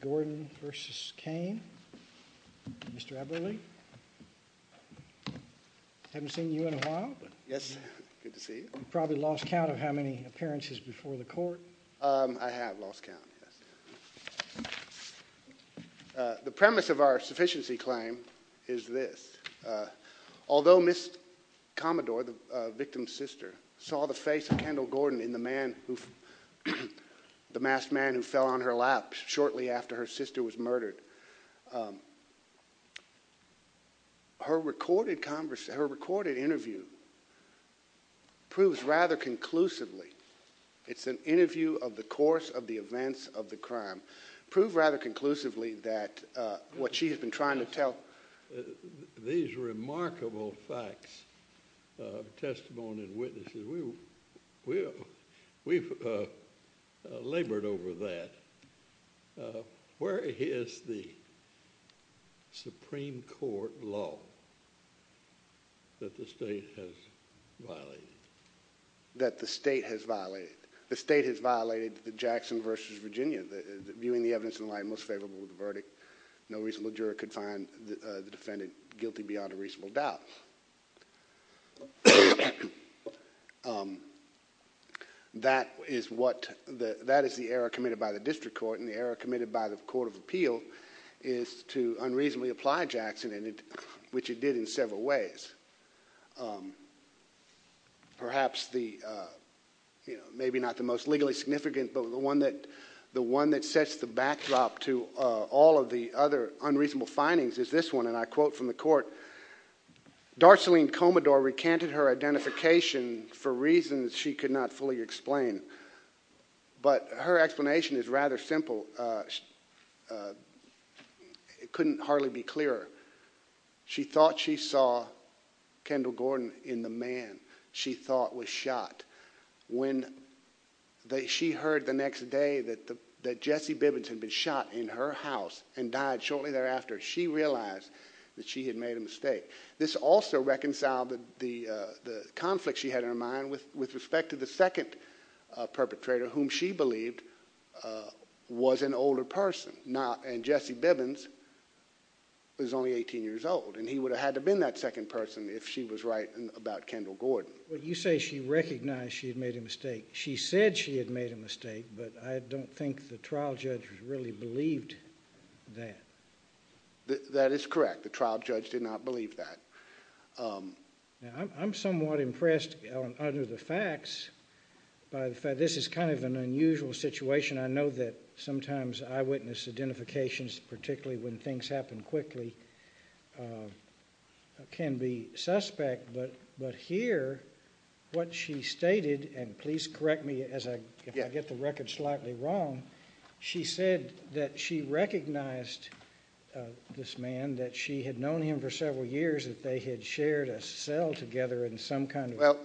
Gordon v. Cain, Mr. Eberle, haven't seen you in a while. Yes, good to see you. Probably lost count of how many appearances before the court. I have lost count, yes. The premise of our sufficiency claim is this. Although Ms. Commodore, the victim's sister, saw the face of Kendall Gordon in the masked man who fell on her lap shortly after her sister was murdered, her recorded interview proves rather conclusively, it's an interview of the course of the events of the crime, prove rather conclusively that what she has been trying to tell. These remarkable facts of testimony and witnesses, we've labored over that. Where is the Supreme Court law that the state has violated? That the state has violated? The state has violated the Jackson v. Virginia, viewing the evidence in light most favorable of the verdict. No reasonable juror could find the defendant guilty beyond a reasonable doubt. That is the error committed by the district court, and the error committed by the Court of Appeal is to unreasonably apply Jackson, which it did in several ways. Perhaps the, maybe not the most legally significant, but the one that sets the backdrop to all of the other unreasonable findings is this one, and I quote from the court, Darcelene Commodore recanted her identification for reasons she could not fully explain, but her explanation is rather simple. It couldn't hardly be clearer. She thought she saw Kendall Gordon in the man she thought was shot. When she heard the next day that Jesse Bibbins had been shot in her house and died shortly thereafter, she realized that she had made a mistake. This also reconciled the conflict she had in her mind with respect to the second perpetrator whom she believed was an older person, and Jesse Bibbins was only 18 years old, and he would have had to have been that second person if she was right about Kendall Gordon. Well, you say she recognized she had made a mistake. She said she had made a mistake, but I don't think the trial judge really believed that. That is correct. The trial judge did not believe that. Now, I'm somewhat impressed under the facts by the fact this is kind of an unusual situation. I know that sometimes eyewitness identifications, particularly when things happen quickly, can be suspect, but here what she stated, and please correct me if I get the record slightly wrong, she said that she recognized this man, that she had known him for several years, that they had shared a cell together in some kind of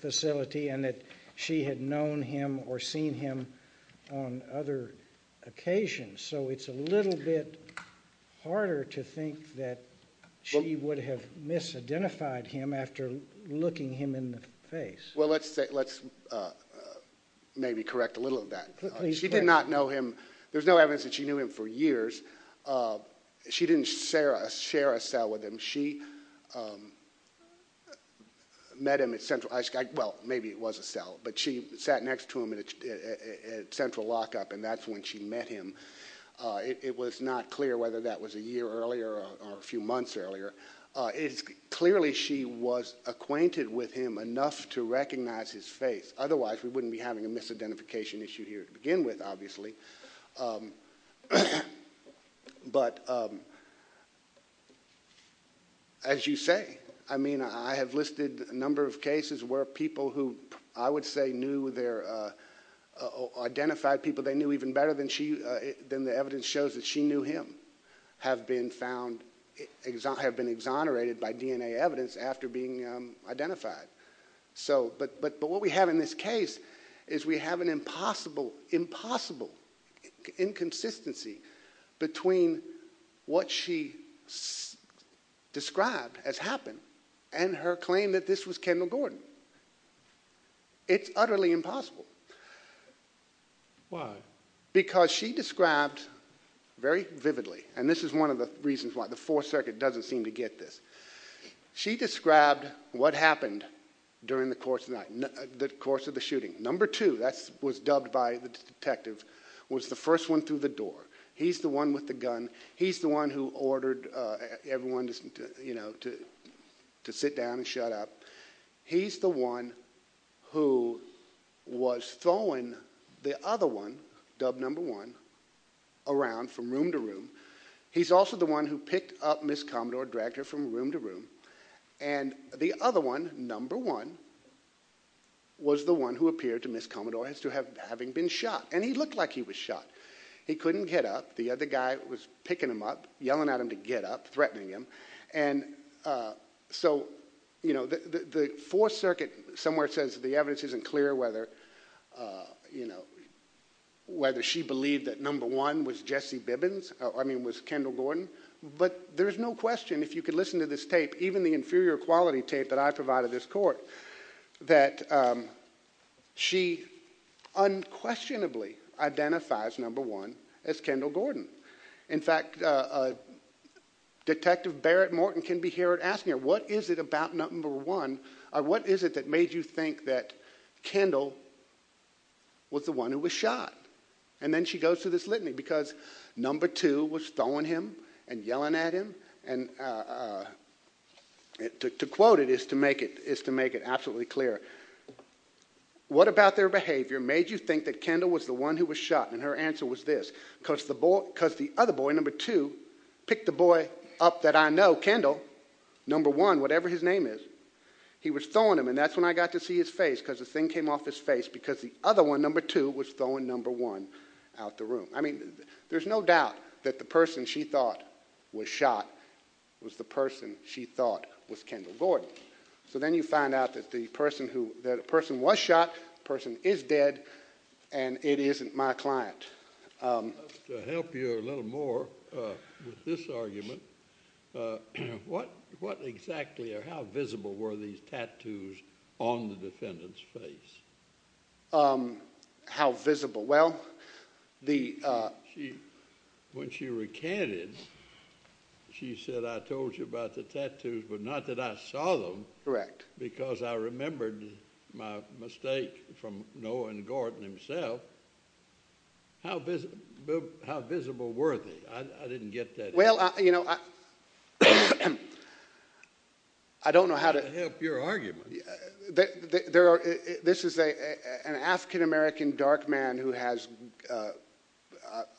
facility, and that she had known him or seen on other occasions, so it's a little bit harder to think that she would have misidentified him after looking him in the face. Well, let's maybe correct a little of that. She did not know him. There's no evidence that she knew him for years. She didn't share a cell with him. She met him at Central, well, maybe it was a cell, but she sat next to him at Central Lockup, and that's when she met him. It was not clear whether that was a year earlier or a few months earlier. Clearly, she was acquainted with him enough to recognize his face. Otherwise, we wouldn't be having a misidentification issue here to begin with, obviously, but as you say, I mean, I have listed a number of cases where people who I would say knew their, identified people they knew even better than the evidence shows that she knew him, have been found, have been exonerated by DNA evidence after being identified, so, but what we have in this case is we have an impossible, impossible inconsistency between what she described as happened and her claim that this was Kendall Gordon. It's utterly impossible. Why? Because she described very vividly, and this is one of the reasons why the during the course of the night, the course of the shooting, number two, that was dubbed by the detective, was the first one through the door. He's the one with the gun. He's the one who ordered everyone to, you know, to sit down and shut up. He's the one who was throwing the other one, dubbed number one, around from room to room. He's also the one who picked up Miss Commodore, dragged her from room to room, and the other one, number one, was the one who appeared to Miss Commodore as to having been shot, and he looked like he was shot. He couldn't get up. The other guy was picking him up, yelling at him to get up, threatening him, and so, you know, the fourth circuit somewhere says the evidence isn't clear whether, you know, whether she believed that number one was Jesse Bibbins, I mean, was Kendall Gordon, but there's no question, if you could listen to this tape, even the inferior quality tape that I provided this court, that she unquestionably identifies number one as Kendall Gordon. In fact, Detective Barrett Morton can be here and asking her, what is it about number one, or what is it that made you think that Kendall was the one who was shot? And then she goes through this litany, because number two was throwing him and yelling at him, and to quote it is to make it absolutely clear, what about their behavior made you think that Kendall was the one who was shot? And her answer was this, because the other boy, number two, picked the boy up that I know, Kendall, number one, whatever his name is, he was throwing him, and that's when I got to see his face, because the thing came off his face, because the other one, number two, was throwing number one out the room. I mean, there's no doubt that the person she thought was shot was the person she thought was Kendall Gordon. So then you find out that the person who, that a person was shot, person is dead, and it isn't my client. To help you a little more with this argument, what exactly, or how did you see the tattoos on the defendant's face? How visible? Well, when she recanted, she said, I told you about the tattoos, but not that I saw them. Correct. Because I remembered my mistake from Noah and Gordon himself. How visible were they? I didn't get that. Well, you know, I don't know how to help your argument. There are, this is an African-American dark man who has, I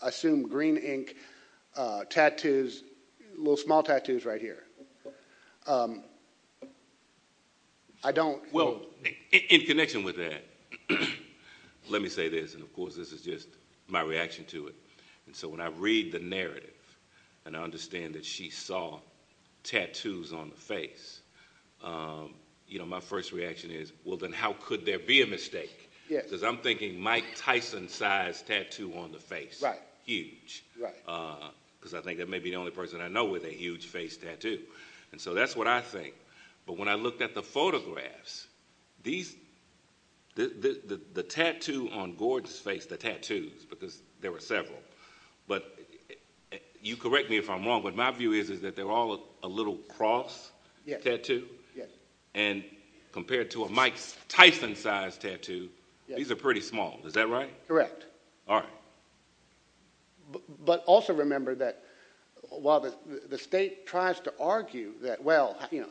assume, green ink tattoos, little small tattoos right here. I don't. Well, in connection with that, let me say this, and of course this is just my reaction to it, and so when I read the narrative and I understand that she saw tattoos on the face, you know, my first reaction is, well, then how could there be a mistake? Yes. Because I'm thinking Mike Tyson-sized tattoo on the face. Right. Huge. Right. Because I think that may be the only person I know with a huge face tattoo, and so that's what I think, but when I looked at the photographs, these, the tattoo on Gordon's face, the tattoos, because there were several, but you correct me if I'm wrong, but my view is that they're all a little cross tattoo, and compared to a Mike Tyson-sized tattoo, these are pretty small. Is that right? Correct. All right. But also remember that while the state tries to argue that, well, you know,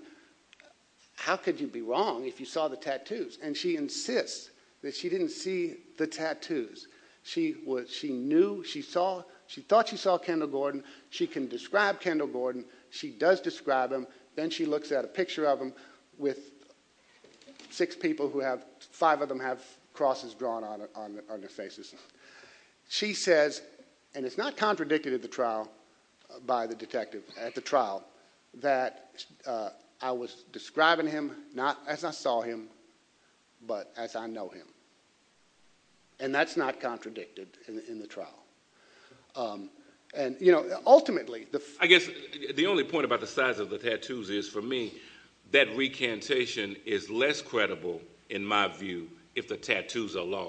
how could you be wrong if you saw the tattoos? And she insists that she didn't see the tattoos. She was, she knew, she saw, she thought she saw Kendall Gordon. She can describe Kendall Gordon. She does describe him. Then she looks at a picture of him with six people who have, five of them have crosses drawn on their faces. She says, and it's not contradicted at the trial by the detective at the trial, that I was describing him not as I saw him, but as I know him, and that's not contradicted in the trial. And, you know, ultimately the, I guess the only point about the size of the tattoos is for me, that recantation is less credible in my view, if the tattoos are large,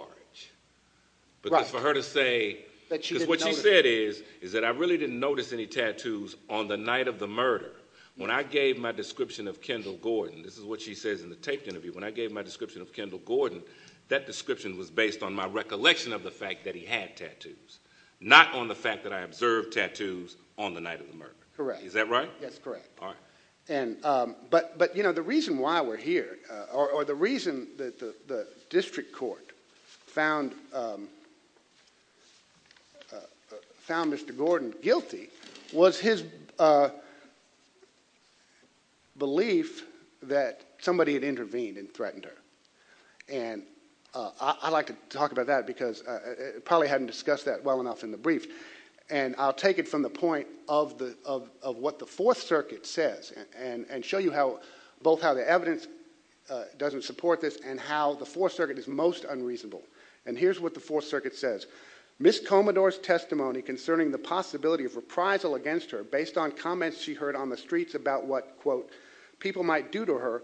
but for her to say, because what she said is, is that I really didn't notice any tattoos on the night of the murder. When I gave my description of Kendall Gordon, this is what she says in the tape interview, when I gave my description of Kendall Gordon, that description was based on my recollection of the fact that he had tattoos, not on the fact that I observed tattoos on the night of the murder. Correct. Is that right? That's correct. All right. And, but, but, you know, the reason why we're here, or the reason that the district court found, found Mr. Gordon guilty was his belief that somebody had intervened and threatened her. And I like to talk about that because it probably hadn't discussed that well enough in the brief. And I'll take it from the point of the, of, of what the fourth circuit says and, and, and show you how both how the evidence doesn't support this and how the fourth circuit is most unreasonable. And here's what the fourth circuit says. Ms. Comedor's testimony concerning the possibility of reprisal against her based on comments she heard on the streets about what quote, people might do to her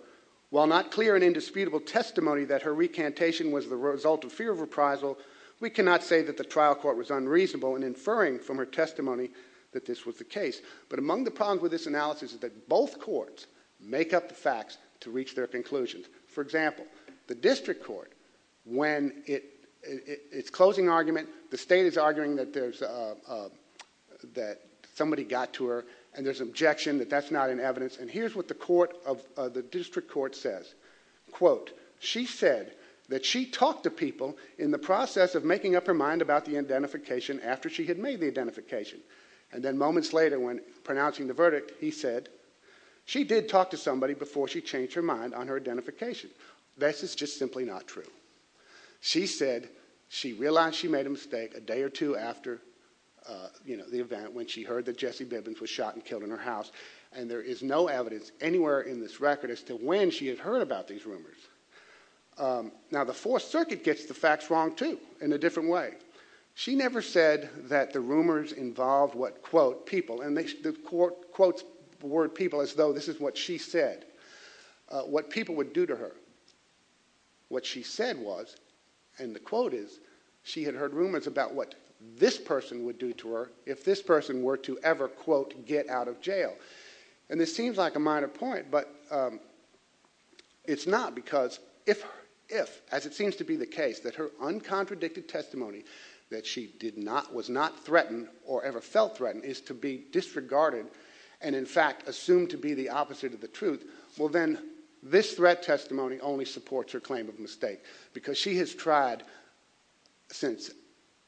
while not clear and indisputable testimony that her recantation was the result of fear of reprisal. We cannot say that the trial court was unreasonable and inferring from her testimony that this was the case. But among the problems with this analysis is that both courts make up the facts to reach their conclusions. For example, the district court, when it it's closing argument, the state is arguing that there's a, that somebody got to her and there's an objection that that's not an evidence. And here's what the court of the district court says, quote, she said that she talked to people in the process of making up her mind about the identification after she had made the identification. And then moments later when pronouncing the verdict, he said, she did talk to somebody before she changed her mind on her identification. This is just simply not true. She said she realized she made a mistake a day or two after, uh, you know, the event when she heard that Jesse Bibbins was shot and killed in her house. And there is no evidence anywhere in this record as to when she had heard about these rumors. Um, now the fourth circuit gets the facts wrong too, in a different way. She never said that the rumors involved what quote people and they, the court quotes word people as though this is what she said, uh, what people would do to her. What she said was, and the quote is she had heard rumors about what this person would do to her. If this person were to ever quote, get out of jail. And this seems like a minor point, but, um, it's not because if, if, as it seems to be the case that her uncontradicted testimony that she did not, was not threatened or ever felt threatened is to be disregarded. And in fact, assumed to be the opposite of the truth. Well, then this threat testimony only supports her claim of mistake because she has tried since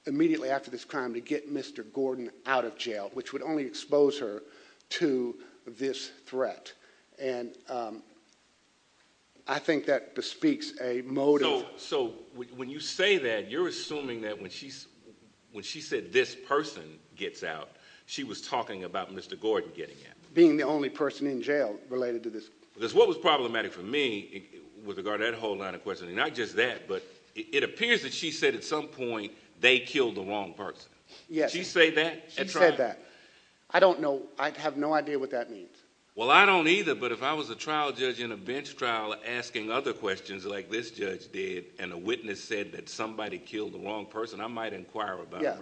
immediately after this crime to get Mr. Gordon out of jail, which would only expose her to this threat. And, um, I think that bespeaks a motive. So when you say that you're assuming that when she's, when she said this person gets out, she was talking about Mr. Gordon getting in being the only person in jail related to this, because what was problematic for me with regard to that whole line of questioning, not just that, but it appears that she said at some point they killed the wrong person. Yeah. She said that I don't know. I have no idea what that means. Well, I don't either, but if I was a trial judge in a bench trial asking other questions like this judge did, and a witness said that somebody killed the wrong person, I might inquire about it.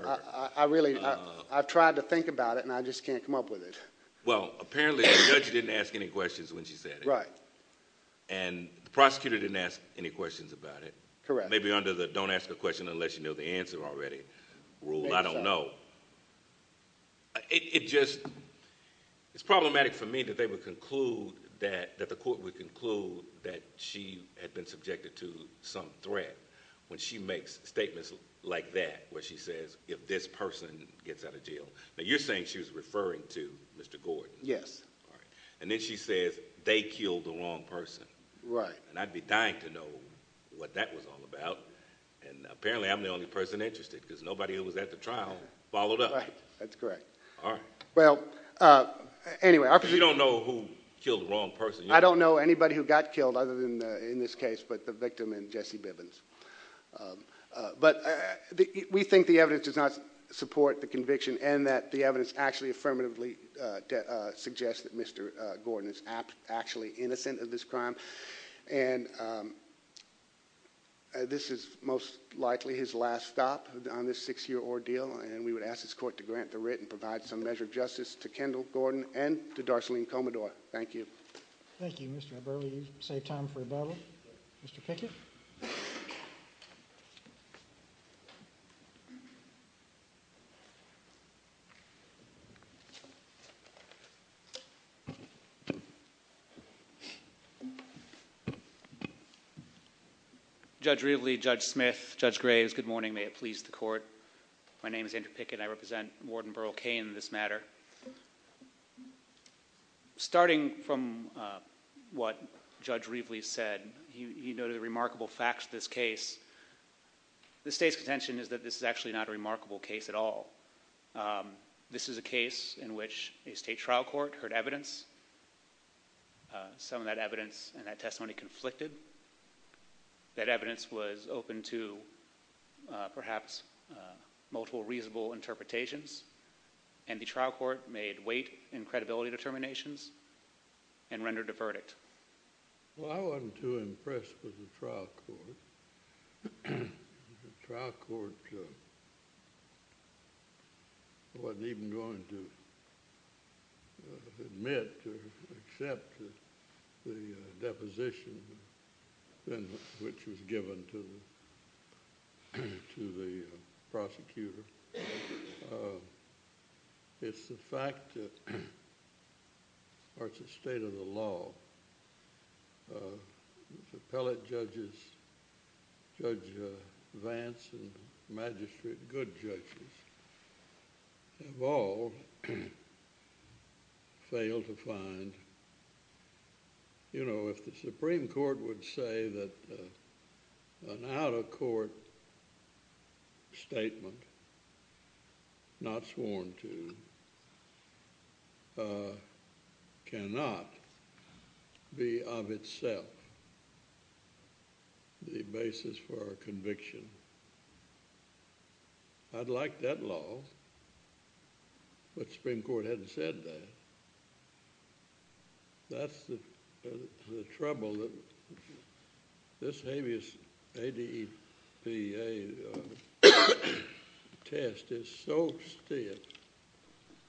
I really, I've tried to think about it and I just can't come up with it. Well, apparently the judge didn't ask any questions when she said it. Right. And the prosecutor didn't ask any questions about it. Correct. Maybe under the don't ask a question unless you know the answer already rule. I don't know. It just, it's problematic for me that they would conclude that, that the court would conclude that she had been subjected to some threat when she makes statements like that, where she says, if this person gets out of jail, but you're saying she was referring to Mr. Gordon. Yes. All right. And then she says they killed the wrong person. Right. And I'd be dying to know what that was all about. And apparently I'm the only person interested because nobody who was at the trial followed up. That's correct. All right. Well, uh, anyway, you don't know who killed the wrong person. I don't know anybody who got killed other than, uh, in this case, but the victim and Jesse Bibbins. Um, uh, but, uh, we think the evidence does not support the conviction and that the evidence actually affirmatively, uh, uh, suggest that Mr. Gordon is actually innocent of this crime. And, um, this is most likely his last stop on this six year ordeal. And we would ask this court to grant the writ and provide some measure of justice to Kendall Gordon and to Darcelene Commodore. Thank you. Thank you, Mr. Burley. You saved time for a bubble. Mr. Pickett. Judge Ridley, Judge Smith, Judge Graves. Good morning. May it please the court. My name is Andrew Pickett. I represent Warden Burrell Kane in this matter. Um, starting from, uh, what Judge Ridley said, he noted the remarkable facts of this case. The state's contention is that this is actually not a remarkable case at all. Um, this is a case in which a state trial court heard evidence. Some of that evidence and that testimony conflicted. That evidence was open to, uh, perhaps, multiple reasonable interpretations. And the trial court made weight in credibility determinations and rendered a verdict. Well, I wasn't too impressed with the trial court. The trial court, uh, wasn't even going to, uh, admit or accept the, uh, deposition then, which was given to the, to the prosecutor. Uh, it's the fact that, or it's the state of the law. Uh, the appellate judges, Judge, uh, Vance and Magistrate Good judges have all failed to find, you know, if the Supreme Court would say that, uh, an out-of-court statement not sworn to, uh, cannot be of itself the basis for our conviction. Um, I'd like that law, but the Supreme Court hadn't said that. That's the, the trouble that this habeas ADEPA, uh, test is so stiff,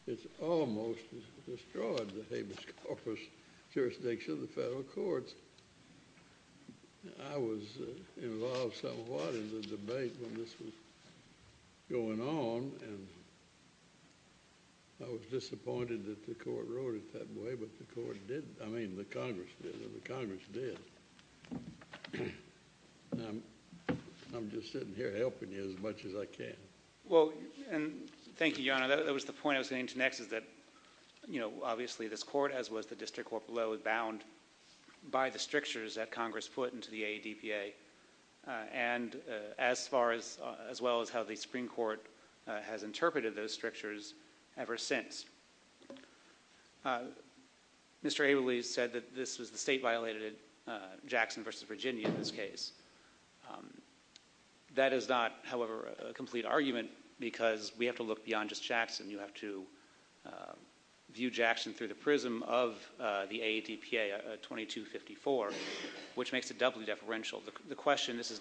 it's almost destroyed the habeas corpus jurisdiction of the federal courts. I was, uh, involved somewhat in the debate when this was going on, and I was disappointed that the court wrote it that way, but the court didn't. I mean, the Congress did, and the Congress did. I'm just sitting here helping you as much as I can. Well, and thank you, Your Honor. That was the point I was getting to next, is that, you know, obviously this court, as was the District Court below, is bound by the strictures that Congress put into the ADEPA, uh, and, uh, as far as, uh, as well as how the Supreme Court, uh, has interpreted those strictures ever since. Uh, Mr. Abelese said that this was the state violated, uh, Jackson versus Virginia in this case. Um, that is not, however, a complete argument because we have to look beyond just the ADEPA 2254, which makes it doubly deferential. The question, this is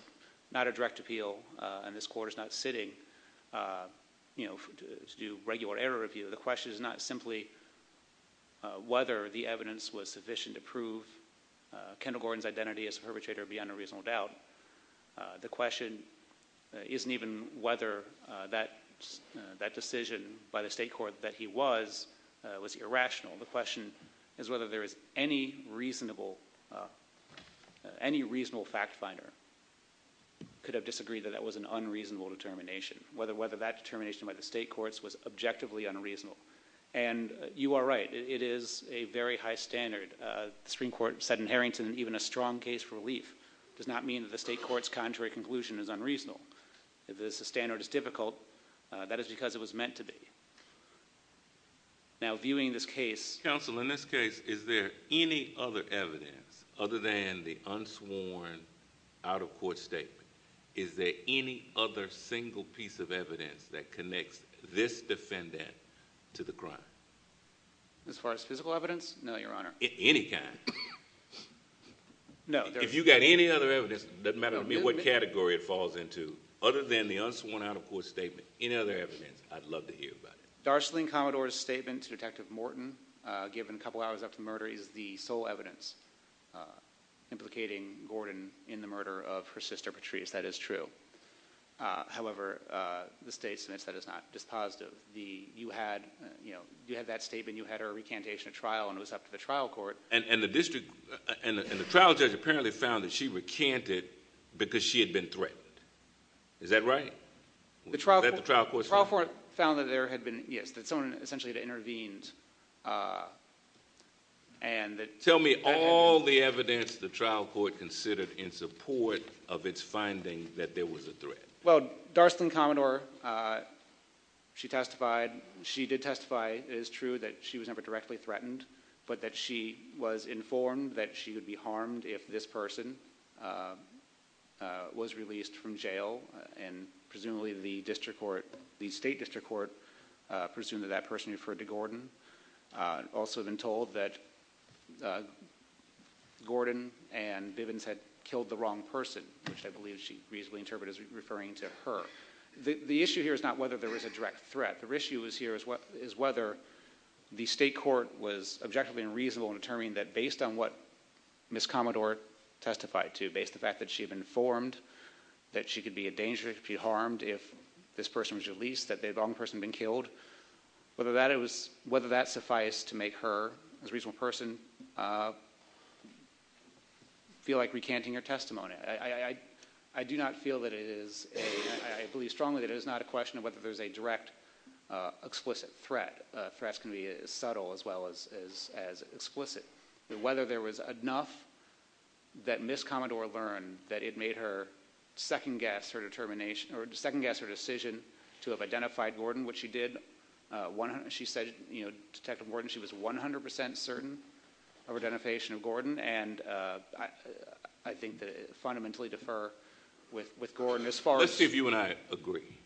not a direct appeal, uh, and this court is not sitting, uh, you know, to do regular error review. The question is not simply, uh, whether the evidence was sufficient to prove, uh, Kendall Gordon's identity as a perpetrator beyond a reasonable doubt. Uh, the question isn't even whether, uh, that, uh, that any reasonable, uh, any reasonable fact finder could have disagreed that that was an unreasonable determination, whether, whether that determination by the state courts was objectively unreasonable. And you are right. It is a very high standard. Uh, the Supreme Court said in Harrington, even a strong case for relief does not mean that the state court's contrary conclusion is unreasonable. If the standard is difficult, uh, that is because it was meant to be. Now, viewing this case. Counsel, in this case, is there any other evidence other than the unsworn out of court statement? Is there any other single piece of evidence that connects this defendant to the crime? As far as physical evidence? No, Your Honor. Any kind? No. If you got any other evidence, doesn't matter to me what category it falls into, other than the unsworn out of court statement. Any other evidence? I'd love to hear about it. Darceline Commodore's statement to Detective Morton, uh, given a couple hours after murder is the sole evidence, uh, implicating Gordon in the murder of her sister, Patrice. That is true. Uh, however, uh, the state's that is not dispositive. The, you had, you know, you had that statement, you had her recantation at trial and it was up to the trial court. And, and the district and the trial judge apparently found that she recanted because she had been threatened. Is that right? The trial court found that there had been, yes, that someone essentially had intervened, uh, and that... Tell me all the evidence the trial court considered in support of its finding that there was a threat. Well, Darceline Commodore, uh, she testified, she did testify, it is true that she was never directly threatened, but that she was informed that she would be harmed if this person, uh, uh, was released from jail. And presumably the district court, the state district court, uh, presumed that that person referred to Gordon. Uh, also been told that, uh, Gordon and Bivens had killed the wrong person, which I believe she reasonably interpreted as referring to her. The, the issue here is not whether there is a direct threat. The issue is here is what, is whether the state court was objectively unreasonable in determining that based on what Ms. Commodore testified to, based on the fact that she had been informed that she could be a danger, could be harmed if this person was released, that the wrong person had been killed, whether that it was, whether that sufficed to make her as a reasonable person, uh, feel like recanting her testimony. I, I, I, I do not feel that it is a, I believe strongly that it is not a question of whether there's a direct, uh, explicit threat. Uh, threats can be as subtle as well as, as, as explicit. Whether there was enough that Ms. Commodore learned that it made her second guess her determination or second guess her decision to have identified Gordon, which she did. Uh, one, she said, you know, Detective Gordon, she was 100% certain of identification of Gordon. And, uh, I, I think that it fundamentally differ with, with Gordon as far as... Let's see if you and I agree.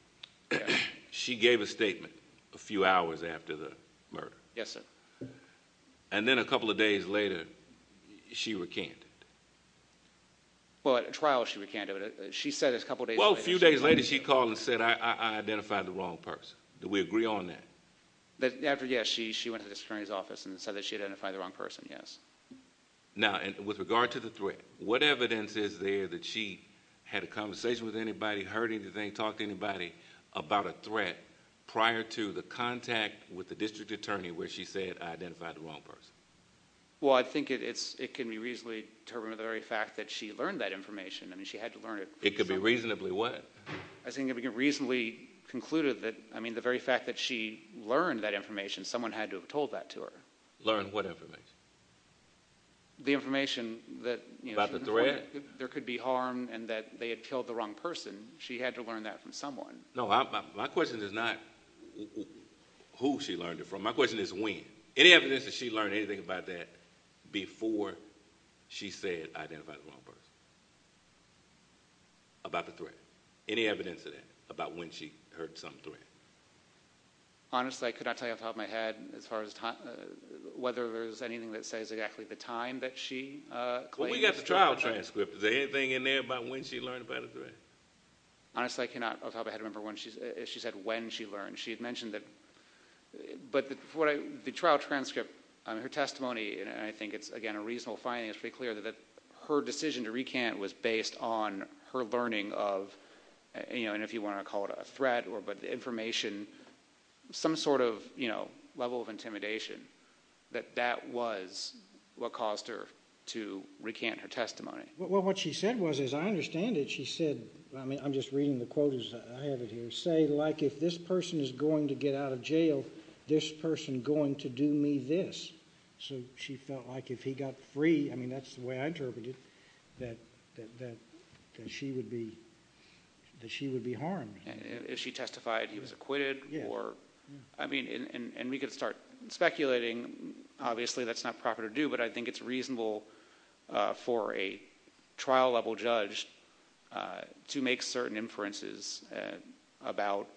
She gave a statement a few hours after the murder. Yes, sir. And then a couple of days later, she recanted. Well, at a trial she recanted, but she said a couple of days later... Well, a few days later she called and said, I, I identified the wrong person. Do we agree on that? That after, yes, she, she went to the attorney's office and said that she identified the wrong person. Yes. Now, and with regard to the threat, what evidence is there that she had a conversation with anybody, heard anything, talked to anybody about a threat prior to the contact with the district attorney where she said, I identified the wrong person? Well, I think it's, it can be reasonably determined the very fact that she learned that information. I mean, she had to learn it. It could be reasonably what? I think it could be reasonably concluded that, I mean, the very fact that she learned that information, someone had to have told that to her. Learn what information? The information that... About the threat? There could be harm and that they had killed the wrong person. She had to learn that from someone. No, my question is not who she learned it from. My question is when? Any evidence that she learned anything about that before she said, I identified the wrong person? About the threat? Any evidence of that? About when she heard some threat? Honestly, I could not tell you off the top of my head as far as time, whether there's anything that says exactly the time that she claimed. Well, we got the trial transcript. Is there anything in there about when she learned about the threat? Honestly, I cannot off the top of my head remember when she said when she learned. She had mentioned that, but the trial transcript, I mean, her testimony, and I think it's, again, a reasonable finding, it's pretty clear that her decision to recant was based on her learning of, you know, and if you want to call it a threat or information, some sort of, you know, level of intimidation, that that was what caused her to recant her testimony. Well, what she said was, as I understand it, she said, I mean, I'm just reading the quote as I have it here, say, like, if this person is going to get out of jail, this person going to do me this. So she felt like if he got free, I mean, that's the way I interpret it, that she would be harmed. If she testified he was acquitted or, I mean, and we could start speculating. Obviously, that's not proper to do, but I think it's reasonable for a trial-level judge to make certain inferences about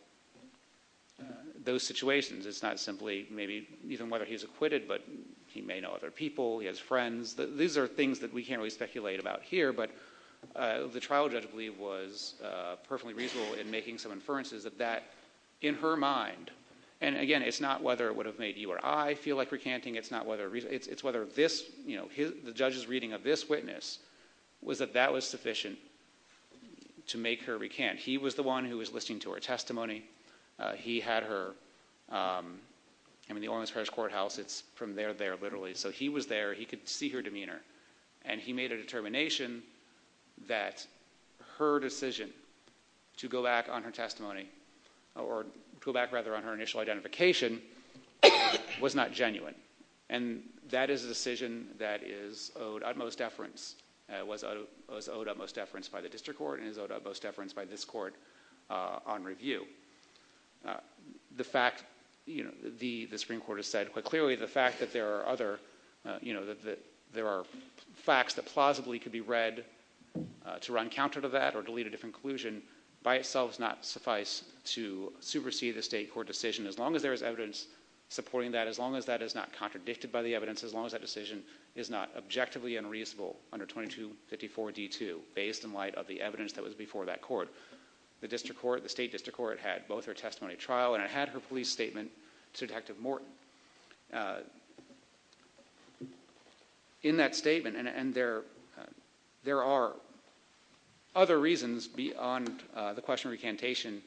those situations. It's not simply maybe even whether he's acquitted, but he may know other people, he has friends. These are things that we can't speculate about here, but the trial judge, I believe, was perfectly reasonable in making some inferences of that in her mind. And again, it's not whether it would have made you or I feel like recanting, it's not whether, it's whether this, you know, the judge's reading of this witness was that that was sufficient to make her recant. He was the one who was listening to her testimony. He had her, I mean, the Ormans Parish Courthouse, it's from there, there, and he made a determination that her decision to go back on her testimony or go back, rather, on her initial identification was not genuine. And that is a decision that is owed utmost deference. It was owed utmost deference by the district court and is owed utmost deference by this court on review. The fact, you know, the Supreme Court has said quite clearly the fact that there are other, you know, that there are facts that plausibly could be read to run counter to that or to lead to a different conclusion by itself does not suffice to supersede the state court decision as long as there is evidence supporting that, as long as that is not contradicted by the evidence, as long as that decision is not objectively unreasonable under 2254 D2 based in light of the evidence that was before that court. The district court, the state district court had both her testimony at trial and it had her police statement to Detective Morton. In that statement, and there are other reasons beyond the question of recantation,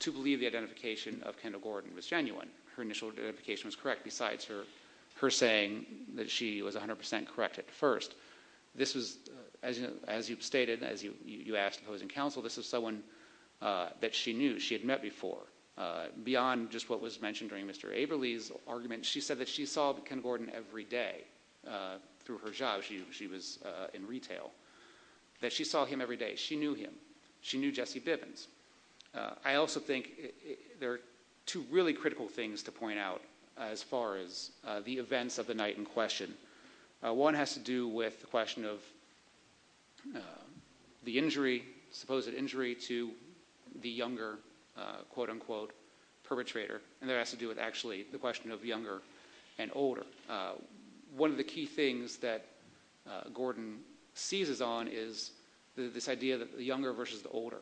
to believe the identification of Kendall Gordon was genuine. Her initial identification was correct besides her saying that she was 100% correct at first. This was, as you stated, as you asked opposing counsel, this was someone that she knew, she had met before. Beyond just what was mentioned during Mr. Averly's argument, she said that she saw Ken Gordon every day through her job, she was in retail, that she saw him every day, she knew him, she knew Jesse Bivens. I also think there are two really critical things to point out as far as the events of the night in question. One has to do with the question of the injury, supposed injury to the younger quote unquote perpetrator and there has to do with actually the question of younger and older. One of the key things that Gordon seizes on is this idea that the younger versus the older,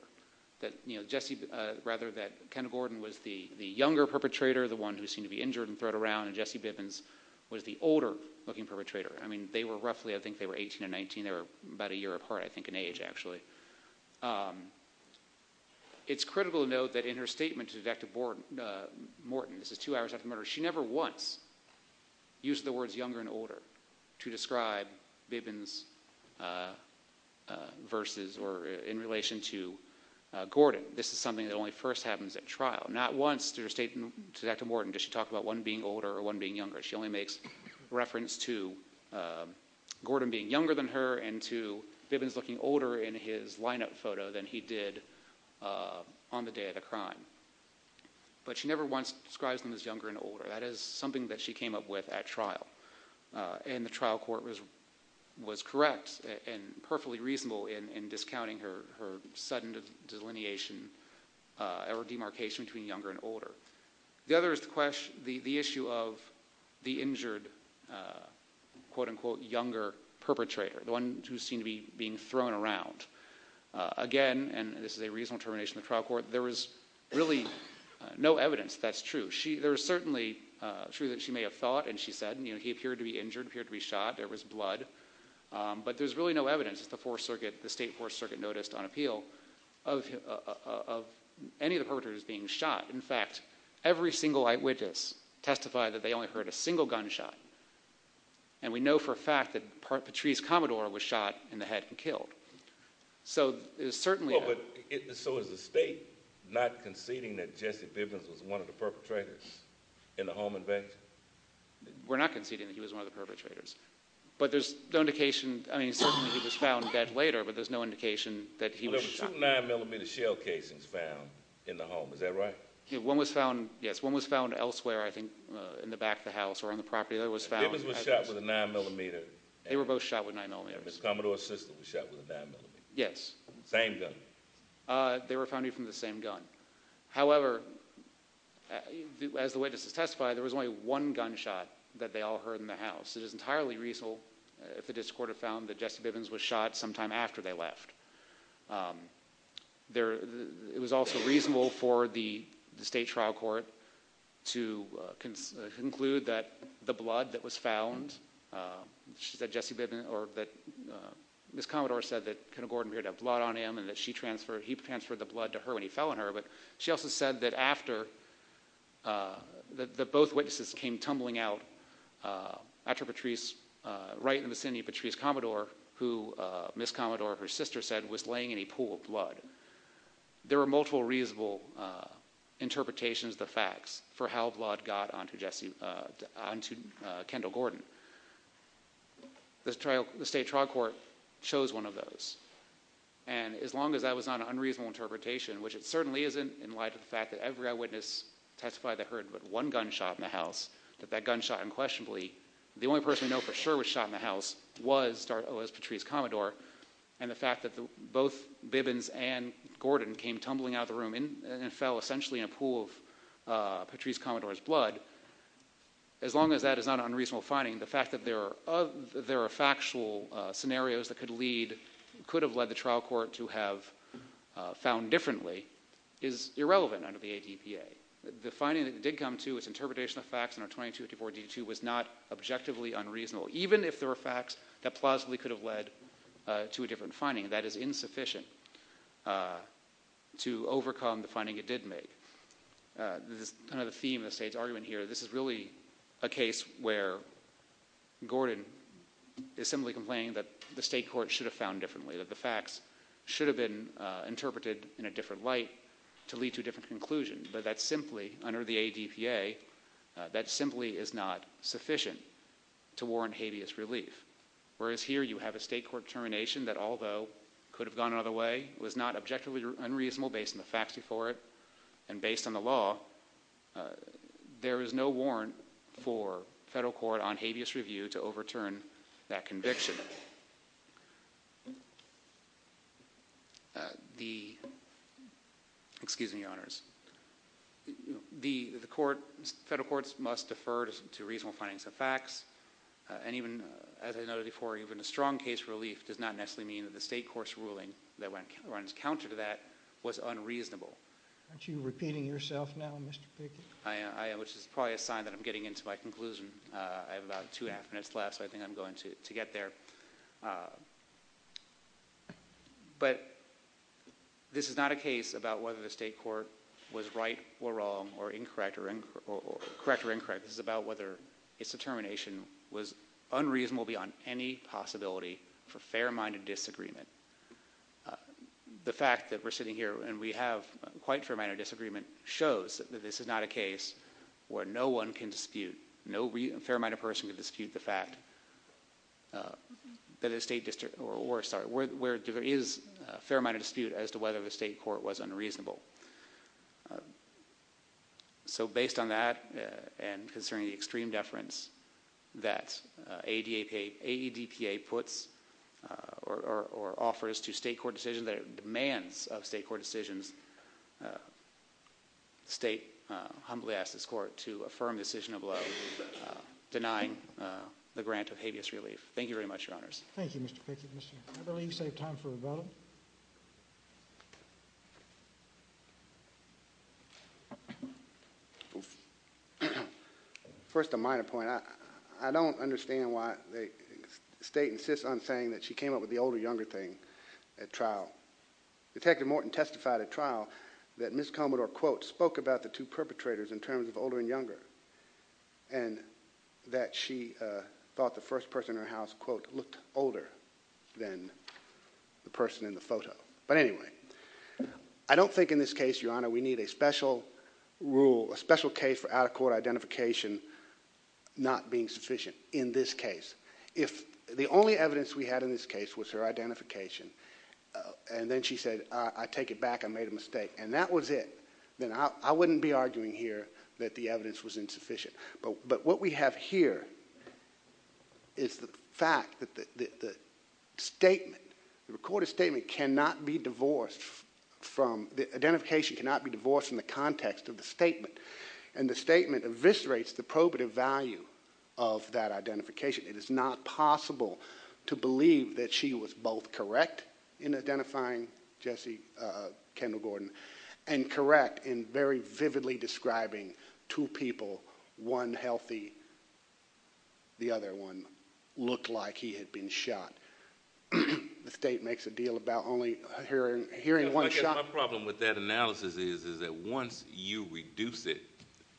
that you know Jesse, rather that Kendall Gordon was the the younger perpetrator, the one who seemed to be injured and threw it around and Jesse Bivens was the older looking perpetrator. I mean they were roughly, I think they were 18 and 19, they were about a year apart I think in age actually. It's critical to note that in her statement to detective Morton, this is two hours after murder, she never once used the words younger and older to describe Bivens versus or in relation to Gordon. This is something that only first happens at trial, not once did her statement to detective Morton does she talk about one being older or one being younger. She only makes reference to Gordon being younger than her and to Bivens looking older in his lineup photo than he did on the day of the crime, but she never once describes them as younger and older. That is something that she came up with at trial and the trial court was correct and perfectly reasonable in discounting her sudden delineation or demarcation between younger and older. The other is the question, the issue of the injured quote unquote younger perpetrator, the one who seemed to be being thrown around. Again, and this is a reasonable termination of the trial court, there was really no evidence that's true. There is certainly true that she may have thought and she said, you know, he appeared to be injured, appeared to be shot, there was blood, but there's really no evidence that the state fourth circuit noticed on appeal of any of the perpetrators being shot. In fact, every single eyewitness testified that they only heard a single gunshot and we know for a fact that Patrice Commodore was shot in the head and killed. So it was certainly... So is the state not conceding that Jesse Bivens was one of the perpetrators in the home invasion? We're not conceding that he was one of the perpetrators, but there's no indication, I mean certainly he was found dead later, but there's no indication that he was shot. There were two nine millimeter shell casings found in the home, is that right? One was found, yes, one was found elsewhere I think in the back of the house or on the property that was found. Bivens was shot with a nine millimeter. They were both shot with nine millimeters. Commodore's sister was shot with a nine millimeter. Yes. Same gun. They were found using the same gun. However, as the witnesses testified, there was only one gunshot that they all heard in the house. It is entirely reasonable if the district court had found that Jesse Bivens was shot sometime after they left. It was also reasonable for the state trial court to conclude that the blood that was found, she said Jesse Bivens, or that Miss Commodore said that kind of Gordon appeared to have blood on him and that she transferred, he transferred the blood to her when he fell on her, but she also said that after, that both witnesses came tumbling out after Patrice, right in the vicinity of Patrice Commodore, who Miss Commodore, her sister said, was laying in a pool of blood. There were multiple reasonable interpretations of the facts for how blood got onto Jesse, onto Kendall Gordon. The trial, the state trial court chose one of those and as long as that was not an unreasonable interpretation, which it certainly isn't in light of the fact that every eyewitness testified they heard but one gunshot in the house, that that gunshot unquestionably, the only person we know for sure was shot in the house was Patrice Commodore and the fact that both Bivens and Gordon came tumbling out of the room and fell essentially in a pool of Patrice Commodore's blood, as long as that is not an unreasonable finding, the fact that there are factual scenarios that could lead, could have led the trial court to have found differently, is irrelevant under the ADPA. The finding that did come to was interpretation of facts under 2254 D2 was not objectively unreasonable, even if there were facts that plausibly could have led to a different finding, that is insufficient to overcome the finding it did make. This is kind of the theme of the state's argument here, this is really a case where Gordon is simply complaining that the state court should have found differently, that the facts should have been interpreted in a different light to lead to a different conclusion, but that simply under the ADPA, that simply is not sufficient to warrant habeas relief, whereas here you have a state court termination that although could have gone another way, was not objectively unreasonable based on the facts before it and based on the law, there is no warrant for federal court on habeas review to overturn that conviction. The, excuse me your honors, the court, federal courts must defer to reasonable findings of facts and even as I noted before, even a strong case relief does not necessarily mean that the state court's ruling that runs counter to that was unreasonable. Aren't you repeating yourself now Mr. Pickett? I am, which is probably a sign that I'm getting into my conclusion. I have about two and a half minutes left, so I think I'm going to get there. But this is not a case about whether the state court was right or wrong or incorrect or incorrect, this is about whether its determination was unreasonable beyond any possibility for fair minded disagreement. The fact that we're sitting here and we have quite fair mannered disagreement shows that this is not a case where no one can dispute, no fair minded person can dispute the fact that a state district or sorry, where there is a fair minded dispute as to whether the state court was unreasonable. So based on that and concerning the extreme deference that AEDPA puts or offers to state court decisions, that it demands of state court decisions, the state humbly asks this court to affirm the decision of love, denying the grant of habeas relief. Thank you very much, Your Honors. Thank you, Mr. Pickett. I believe you saved time for a vote. First, a minor point. I don't understand why the state insists on saying that she came up with the older younger thing at trial. Detective Morton testified at trial that Ms. Commodore quote, spoke about the two perpetrators in terms of older and younger and that she thought the first person in her house quote, looked older than the person in the photo. But anyway, I don't think in this case, Your Honor, we need a special rule, a special case for out of court identification not being sufficient in this case. If the only evidence we had in this case was her identification and then she said, I take it back, I made a mistake and that was it, then I wouldn't be arguing here that the evidence was insufficient. But what we have here is the fact that the statement, the recorded statement cannot be divorced from, the identification cannot be divorced from the probative value of that identification. It is not possible to believe that she was both correct in identifying Jesse Kendall Gordon and correct in very vividly describing two people, one healthy, the other one looked like he had been shot. The state makes a deal about only hearing one shot. My problem with that analysis is that once you reduce it,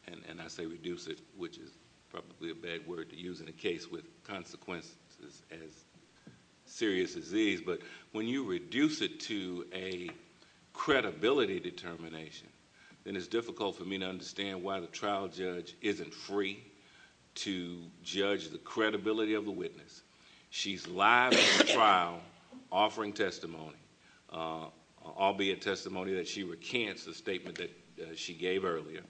and I say reduce it, which is probably a bad word to use in a case with consequences as serious as these, but when you reduce it to a credibility determination, then it's difficult for me to understand why the trial judge isn't free to judge the credibility of the witness. She's live in the trial offering testimony, albeit testimony that she recants the statement that she gave earlier.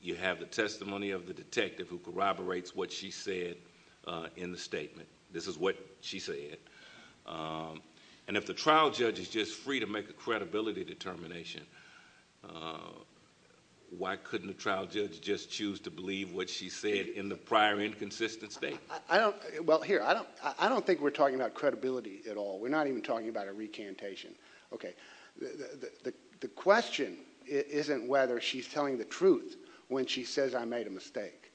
You have the testimony of the detective who corroborates what she said in the statement. This is what she said. And if the trial judge is just free to make a credibility determination, why couldn't the trial judge just choose to believe what she said in the prior inconsistent statement? I don't think we're talking about credibility at all. We're not even talking about a recantation. The question isn't whether she's telling the truth when she says I made a mistake.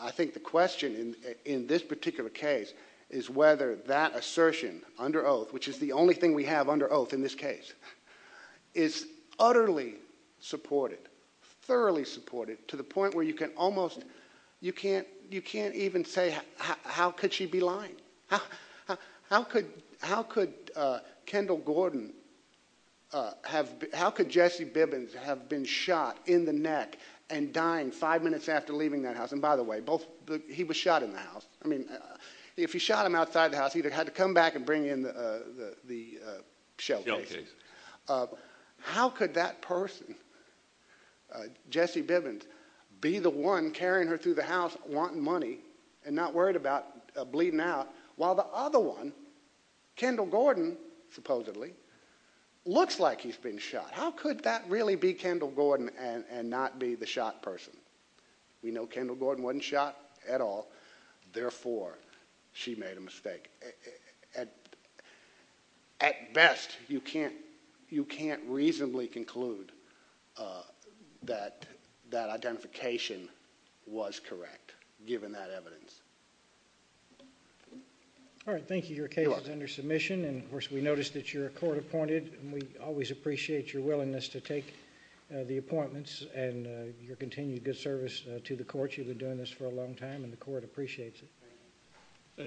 I think the question in this particular case is whether that assertion under oath, which is the only thing we have under oath in this case, is utterly supported, thoroughly supported to the point where you can almost, you can't even say how could she be lying? How could Kendall Gordon, how could Jesse Bibbins have been shot in the neck and dying five minutes after leaving that house? And by the way, he was shot in the house. I mean, if he shot him outside the house, he either had to come back and bring in the shell casing. How could that person Jesse Bibbins be the one carrying her through the house wanting money and not worried about bleeding out while the other one, Kendall Gordon supposedly, looks like he's been shot? How could that really be Kendall Gordon and not be the shot person? We know Kendall Gordon wasn't shot at all. Therefore, she made a mistake. At best, you can't reasonably conclude that that identification was correct given that evidence. All right, thank you. Your case is under submission and of course we noticed that you're a court appointed and we always appreciate your willingness to take the appointments and your continued good service to the court. You've been doing this for a long time and the court appreciates it.